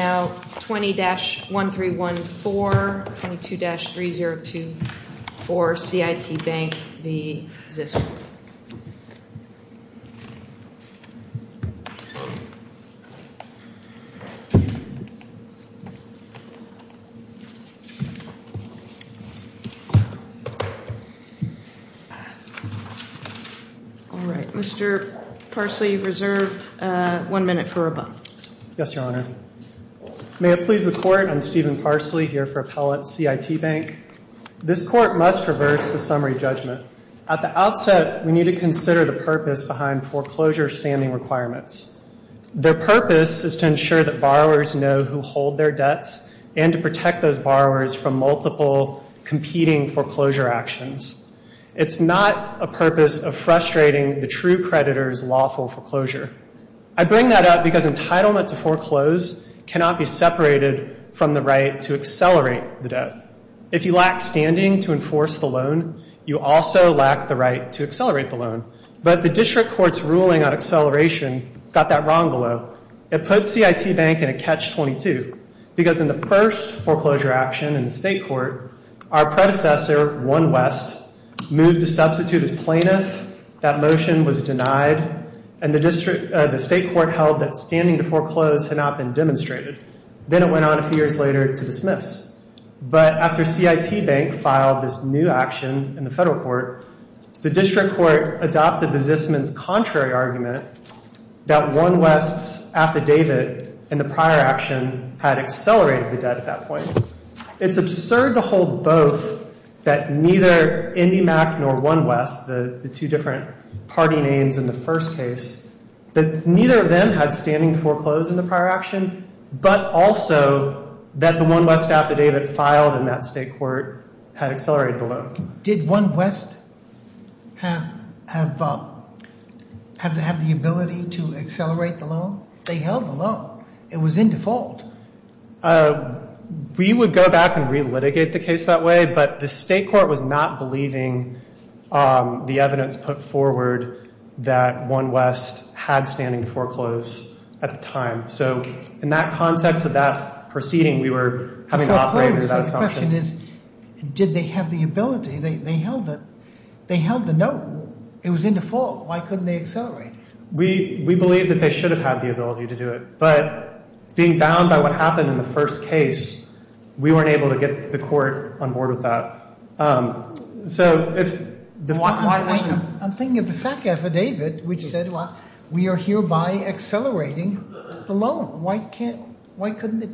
Now, 20-1314, 22-3024, CIT Bank v. Zisman. All right, Mr. Parsley, you're reserved one minute for rebuttal. Yes, Your Honor. May it please the Court, I'm Stephen Parsley here for appellate CIT Bank. This Court must reverse the summary judgment. At the outset, we need to consider the purpose behind foreclosure standing requirements. Their purpose is to ensure that borrowers know who hold their debts and to protect those borrowers from multiple competing foreclosure actions. It's not a purpose of frustrating the true creditor's lawful foreclosure. I bring that up because entitlement to foreclose cannot be separated from the right to accelerate the debt. If you lack standing to enforce the loan, you also lack the right to accelerate the loan. But the district court's ruling on acceleration got that wrong, though. It puts CIT Bank in a catch-22 because in the first foreclosure action in the state court, our predecessor, 1 West, moved to substitute as plaintiff. That motion was denied, and the state court held that standing to foreclose had not been demonstrated. Then it went on a few years later to dismiss. But after CIT Bank filed this new action in the federal court, the district court adopted the Zisman's contrary argument that 1 West's affidavit and the prior action had accelerated the debt at that point. It's absurd to hold both that neither IndyMac nor 1 West, the two different party names in the first case, that neither of them had standing to foreclose in the prior action, but also that the 1 West affidavit filed in that state court had accelerated the loan. Did 1 West have the ability to accelerate the loan? They held the loan. It was in default. We would go back and relitigate the case that way, but the state court was not believing the evidence put forward that 1 West had standing to foreclose at the time. So in that context of that proceeding, we were having to operate under that assumption. The question is, did they have the ability? They held the note. It was in default. Why couldn't they accelerate? We believe that they should have had the ability to do it. But being bound by what happened in the first case, we weren't able to get the court on board with that. So if the 1 West... I'm thinking of the SAC affidavit which said, well, we are hereby accelerating the loan. Why couldn't they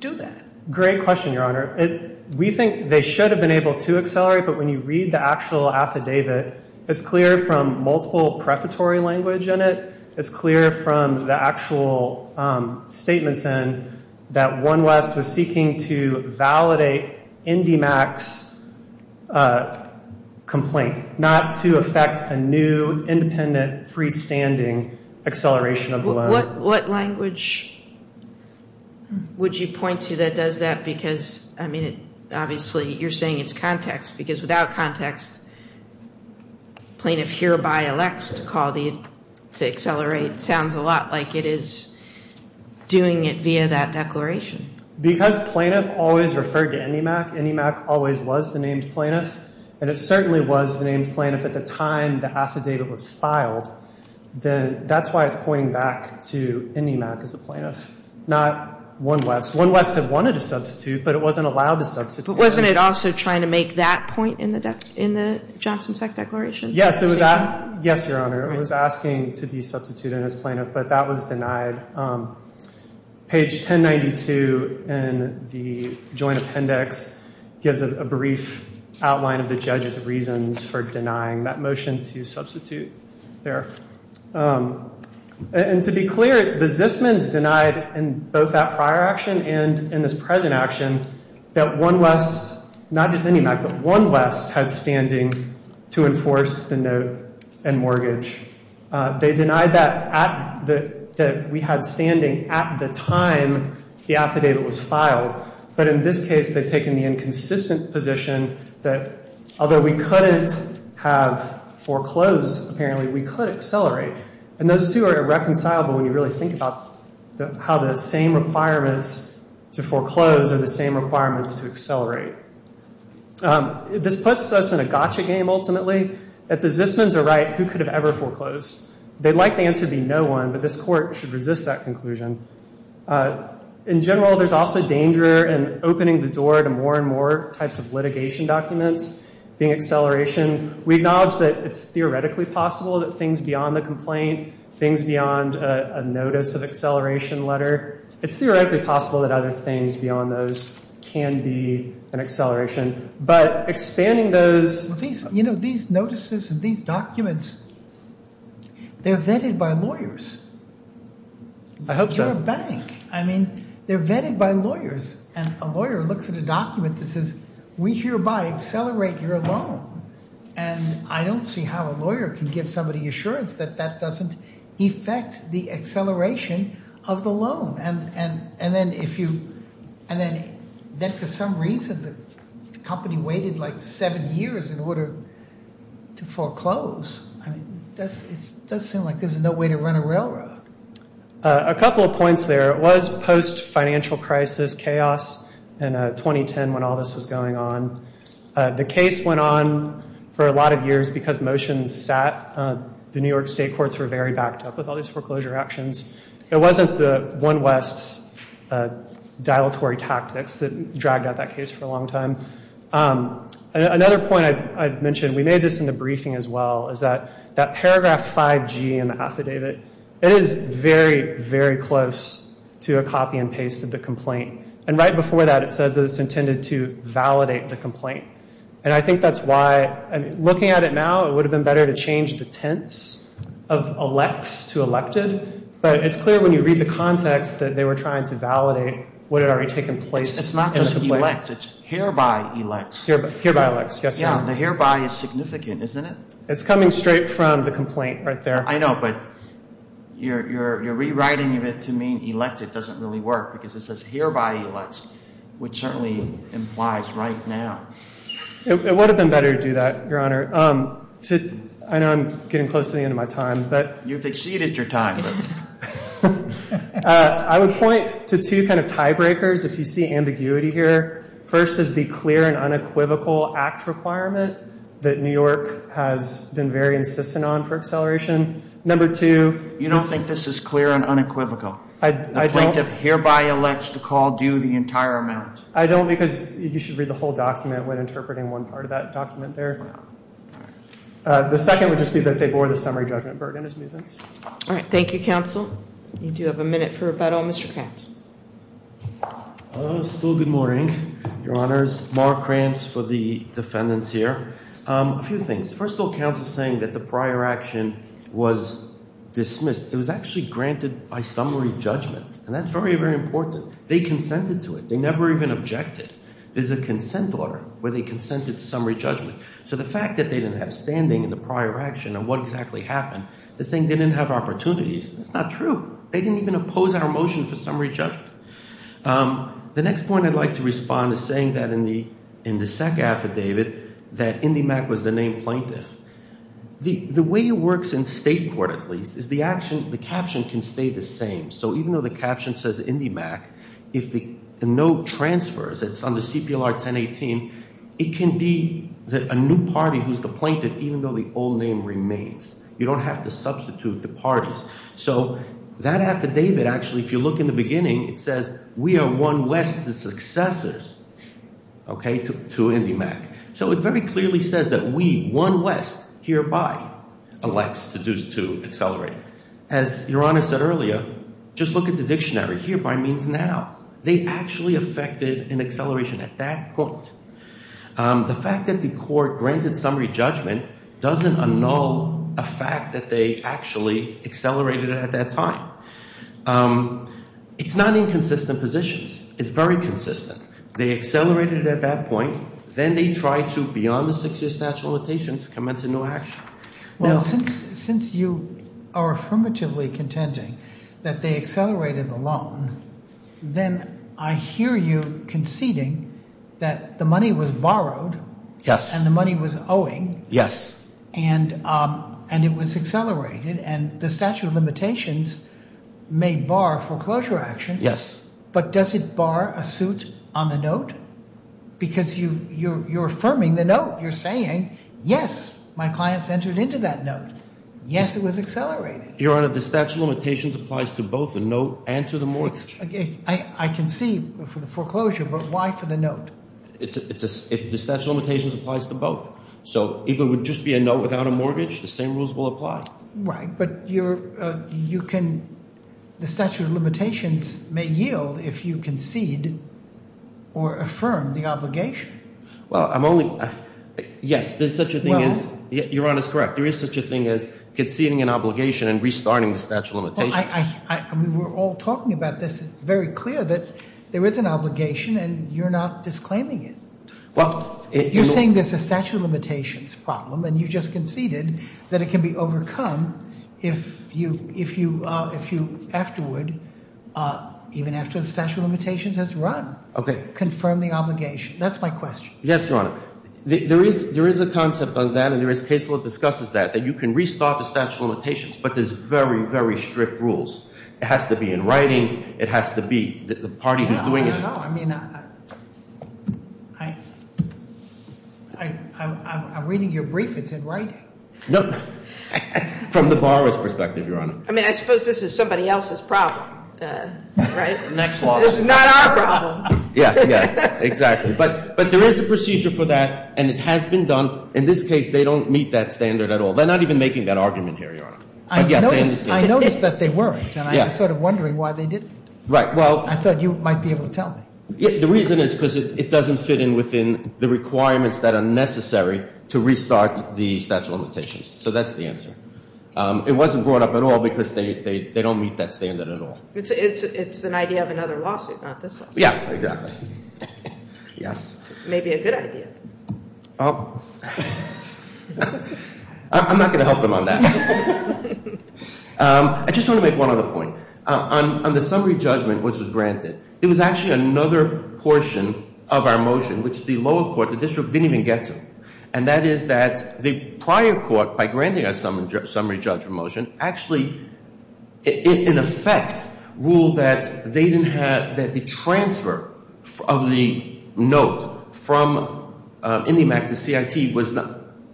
do that? Great question, Your Honor. We think they should have been able to accelerate, but when you read the actual affidavit, it's clear from multiple prefatory language in it. It's clear from the actual statements in that 1 West was seeking to validate IndyMac's complaint, not to affect a new independent freestanding acceleration of the loan. What language would you point to that does that? Because, I mean, obviously you're saying it's context, because without context, plaintiff hereby elects to accelerate sounds a lot like it is doing it via that declaration. Because plaintiff always referred to IndyMac, IndyMac always was the named plaintiff, and it certainly was the named plaintiff at the time the affidavit was filed. That's why it's pointing back to IndyMac as a plaintiff, not 1 West. 1 West had wanted to substitute, but it wasn't allowed to substitute. But wasn't it also trying to make that point in the Johnson-Seck Declaration? Yes, Your Honor. It was asking to be substituted as plaintiff, but that was denied. Page 1092 in the Joint Appendix gives a brief outline of the judge's reasons for denying that motion to substitute there. And to be clear, the Zismans denied in both that prior action and in this present action that 1 West, not just IndyMac, but 1 West had standing to enforce the note and mortgage. They denied that we had standing at the time the affidavit was filed. But in this case, they've taken the inconsistent position that although we couldn't have foreclosed, apparently, we could accelerate. And those two are irreconcilable when you really think about how the same requirements to foreclose are the same requirements to accelerate. This puts us in a gotcha game, ultimately. If the Zismans are right, who could have ever foreclosed? They'd like the answer to be no one, but this Court should resist that conclusion. In general, there's also danger in opening the door to more and more types of litigation documents, being acceleration. We acknowledge that it's theoretically possible that things beyond the complaint, things beyond a notice of acceleration letter, it's theoretically possible that other things beyond those can be an acceleration. But expanding those... These notices and these documents, they're vetted by lawyers. I hope so. They're a bank. I mean, they're vetted by lawyers. And a lawyer looks at a document that says, we hereby accelerate your loan. And I don't see how a lawyer can give somebody assurance that that doesn't affect the acceleration of the loan. And then if you... And then for some reason, the company waited like seven years in order to foreclose. I mean, it does seem like this is no way to run a railroad. A couple of points there. It was post-financial crisis chaos in 2010 when all this was going on. The case went on for a lot of years because motions sat. The New York State courts were very backed up with all these foreclosure actions. It wasn't the one West's dilatory tactics that dragged out that case for a long time. Another point I'd mention, we made this in the briefing as well, is that that paragraph 5G in the affidavit, it is very, very close to a copy and paste of the complaint. And right before that, it says that it's intended to validate the complaint. And I think that's why, looking at it now, it would have been better to change the tense of elects to elected. But it's clear when you read the context that they were trying to validate what had already taken place. It's not just elects. It's hereby elects. Hereby elects, yes, Your Honor. Yeah, the hereby is significant, isn't it? It's coming straight from the complaint right there. I know, but you're rewriting it to mean elected doesn't really work because it says hereby elects, which certainly implies right now. It would have been better to do that, Your Honor. I know I'm getting close to the end of my time. You've exceeded your time. I would point to two kind of tie breakers if you see ambiguity here. First is the clear and unequivocal act requirement that New York has been very insistent on for acceleration. Number two. You don't think this is clear and unequivocal? I don't. The plaintiff hereby elects to call due the entire amount. I don't because you should read the whole document when interpreting one part of that document there. The second would just be that they bore the summary judgment burden as movements. All right. Thank you, counsel. You do have a minute for rebuttal. Mr. Krantz. Still good morning, Your Honors. Mark Krantz for the defendants here. A few things. First of all, counsel is saying that the prior action was dismissed. It was actually granted by summary judgment, and that's very, very important. They consented to it. They never even objected. There's a consent order where they consented to summary judgment. So the fact that they didn't have standing in the prior action and what exactly happened is saying they didn't have opportunities. That's not true. They didn't even oppose our motion for summary judgment. The next point I'd like to respond is saying that in the SEC affidavit that IndyMac was the named plaintiff. The way it works in state court, at least, is the action, the caption can stay the same. So even though the caption says IndyMac, if the note transfers, it's on the CPLR-1018, it can be a new party who's the plaintiff even though the old name remains. You don't have to substitute the parties. So that affidavit actually, if you look in the beginning, it says we are one West's successors to IndyMac. So it very clearly says that we, one West, hereby elects to accelerate. As Your Honor said earlier, just look at the dictionary. Hereby means now. They actually effected an acceleration at that point. The fact that the court granted summary judgment doesn't annul a fact that they actually accelerated it at that time. It's not inconsistent positions. It's very consistent. They accelerated it at that point. Then they tried to, beyond the six-year statute of limitations, commence a new action. Well, since you are affirmatively contending that they accelerated the loan, then I hear you conceding that the money was borrowed. Yes. And the money was owing. Yes. And it was accelerated. And the statute of limitations may bar foreclosure action. Yes. But does it bar a suit on the note? Because you're affirming the note. You're saying, yes, my clients entered into that note. Yes, it was accelerated. Your Honor, the statute of limitations applies to both the note and to the mortgage. I can see for the foreclosure, but why for the note? The statute of limitations applies to both. So if it would just be a note without a mortgage, the same rules will apply. Right. But you can, the statute of limitations may yield if you concede or affirm the obligation. Well, I'm only, yes, there's such a thing as, your Honor is correct, there is such a thing as conceding an obligation and restarting the statute of limitations. I mean, we're all talking about this. It's very clear that there is an obligation and you're not disclaiming it. You're saying there's a statute of limitations problem and you just conceded that it can be overcome if you afterward, even after the statute of limitations has run. Okay. Confirm the obligation. That's my question. Yes, your Honor. There is a concept of that and there is case law that discusses that, that you can restart the statute of limitations, but there's very, very strict rules. It has to be in writing. It has to be the party who's doing it. I don't know. I mean, I'm reading your brief. It's in writing. No, from the borrower's perspective, your Honor. I mean, I suppose this is somebody else's problem, right? Next law. This is not our problem. Yeah, yeah, exactly. But there is a procedure for that and it has been done. In this case, they don't meet that standard at all. They're not even making that argument here, your Honor. I noticed that they weren't and I'm sort of wondering why they didn't. Right. I thought you might be able to tell me. The reason is because it doesn't fit in within the requirements that are necessary to restart the statute of limitations. So that's the answer. It wasn't brought up at all because they don't meet that standard at all. It's an idea of another lawsuit, not this one. Yeah, exactly. Yes. Maybe a good idea. I'm not going to help them on that. I just want to make one other point. On the summary judgment, which was granted, there was actually another portion of our motion, which the lower court, the district, didn't even get to. And that is that the prior court, by granting a summary judgment motion, actually, in effect, ruled that they didn't have the transfer of the note from IndyMac to CIT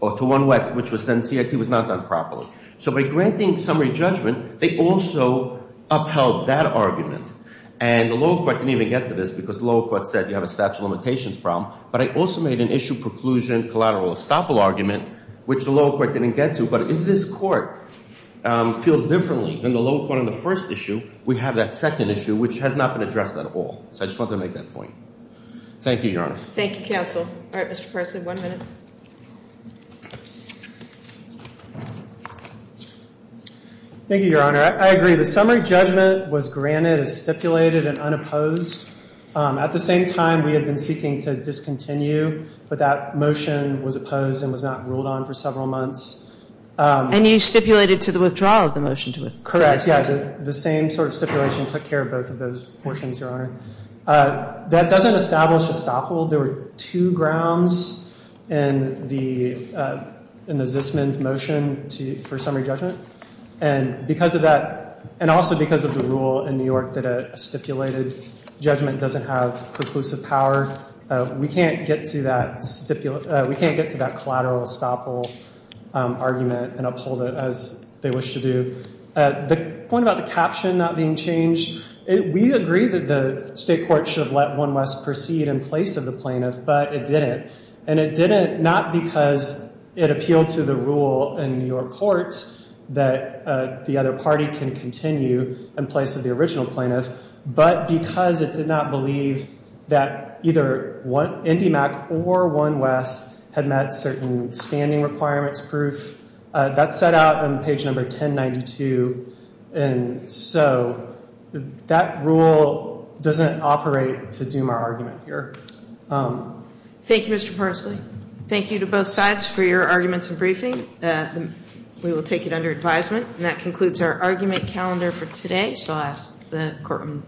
or to OneWest, which was then CIT, was not done properly. So by granting summary judgment, they also upheld that argument. And the lower court didn't even get to this because the lower court said you have a statute of limitations problem. But I also made an issue preclusion collateral estoppel argument, which the lower court didn't get to. But if this court feels differently than the lower court on the first issue, we have that second issue, which has not been addressed at all. So I just wanted to make that point. Thank you, Your Honor. Thank you, counsel. All right, Mr. Parsley, one minute. Thank you, Your Honor. I agree. The summary judgment was granted as stipulated and unopposed. At the same time, we had been seeking to discontinue, but that motion was opposed and was not ruled on for several months. And you stipulated to the withdrawal of the motion to withdraw? Correct, yeah. The same sort of stipulation took care of both of those portions, Your Honor. That doesn't establish estoppel. There were two grounds in the Zisman's motion for summary judgment. And because of that, and also because of the rule in New York that a stipulated judgment doesn't have preclusive power, we can't get to that collateral estoppel argument and uphold it as they wish to do. The point about the caption not being changed, we agree that the state court should have let 1 West proceed in place of the plaintiff, but it didn't. And it didn't not because it appealed to the rule in New York courts that the other party can continue in place of the original plaintiff, but because it did not believe that either IndyMac or 1 West had met certain standing requirements proof. That's set out on page number 1092. And so that rule doesn't operate to doom our argument here. Thank you, Mr. Parsley. Thank you to both sides for your arguments and briefing. We will take it under advisement. And that concludes our argument calendar for today. So I'll ask the court.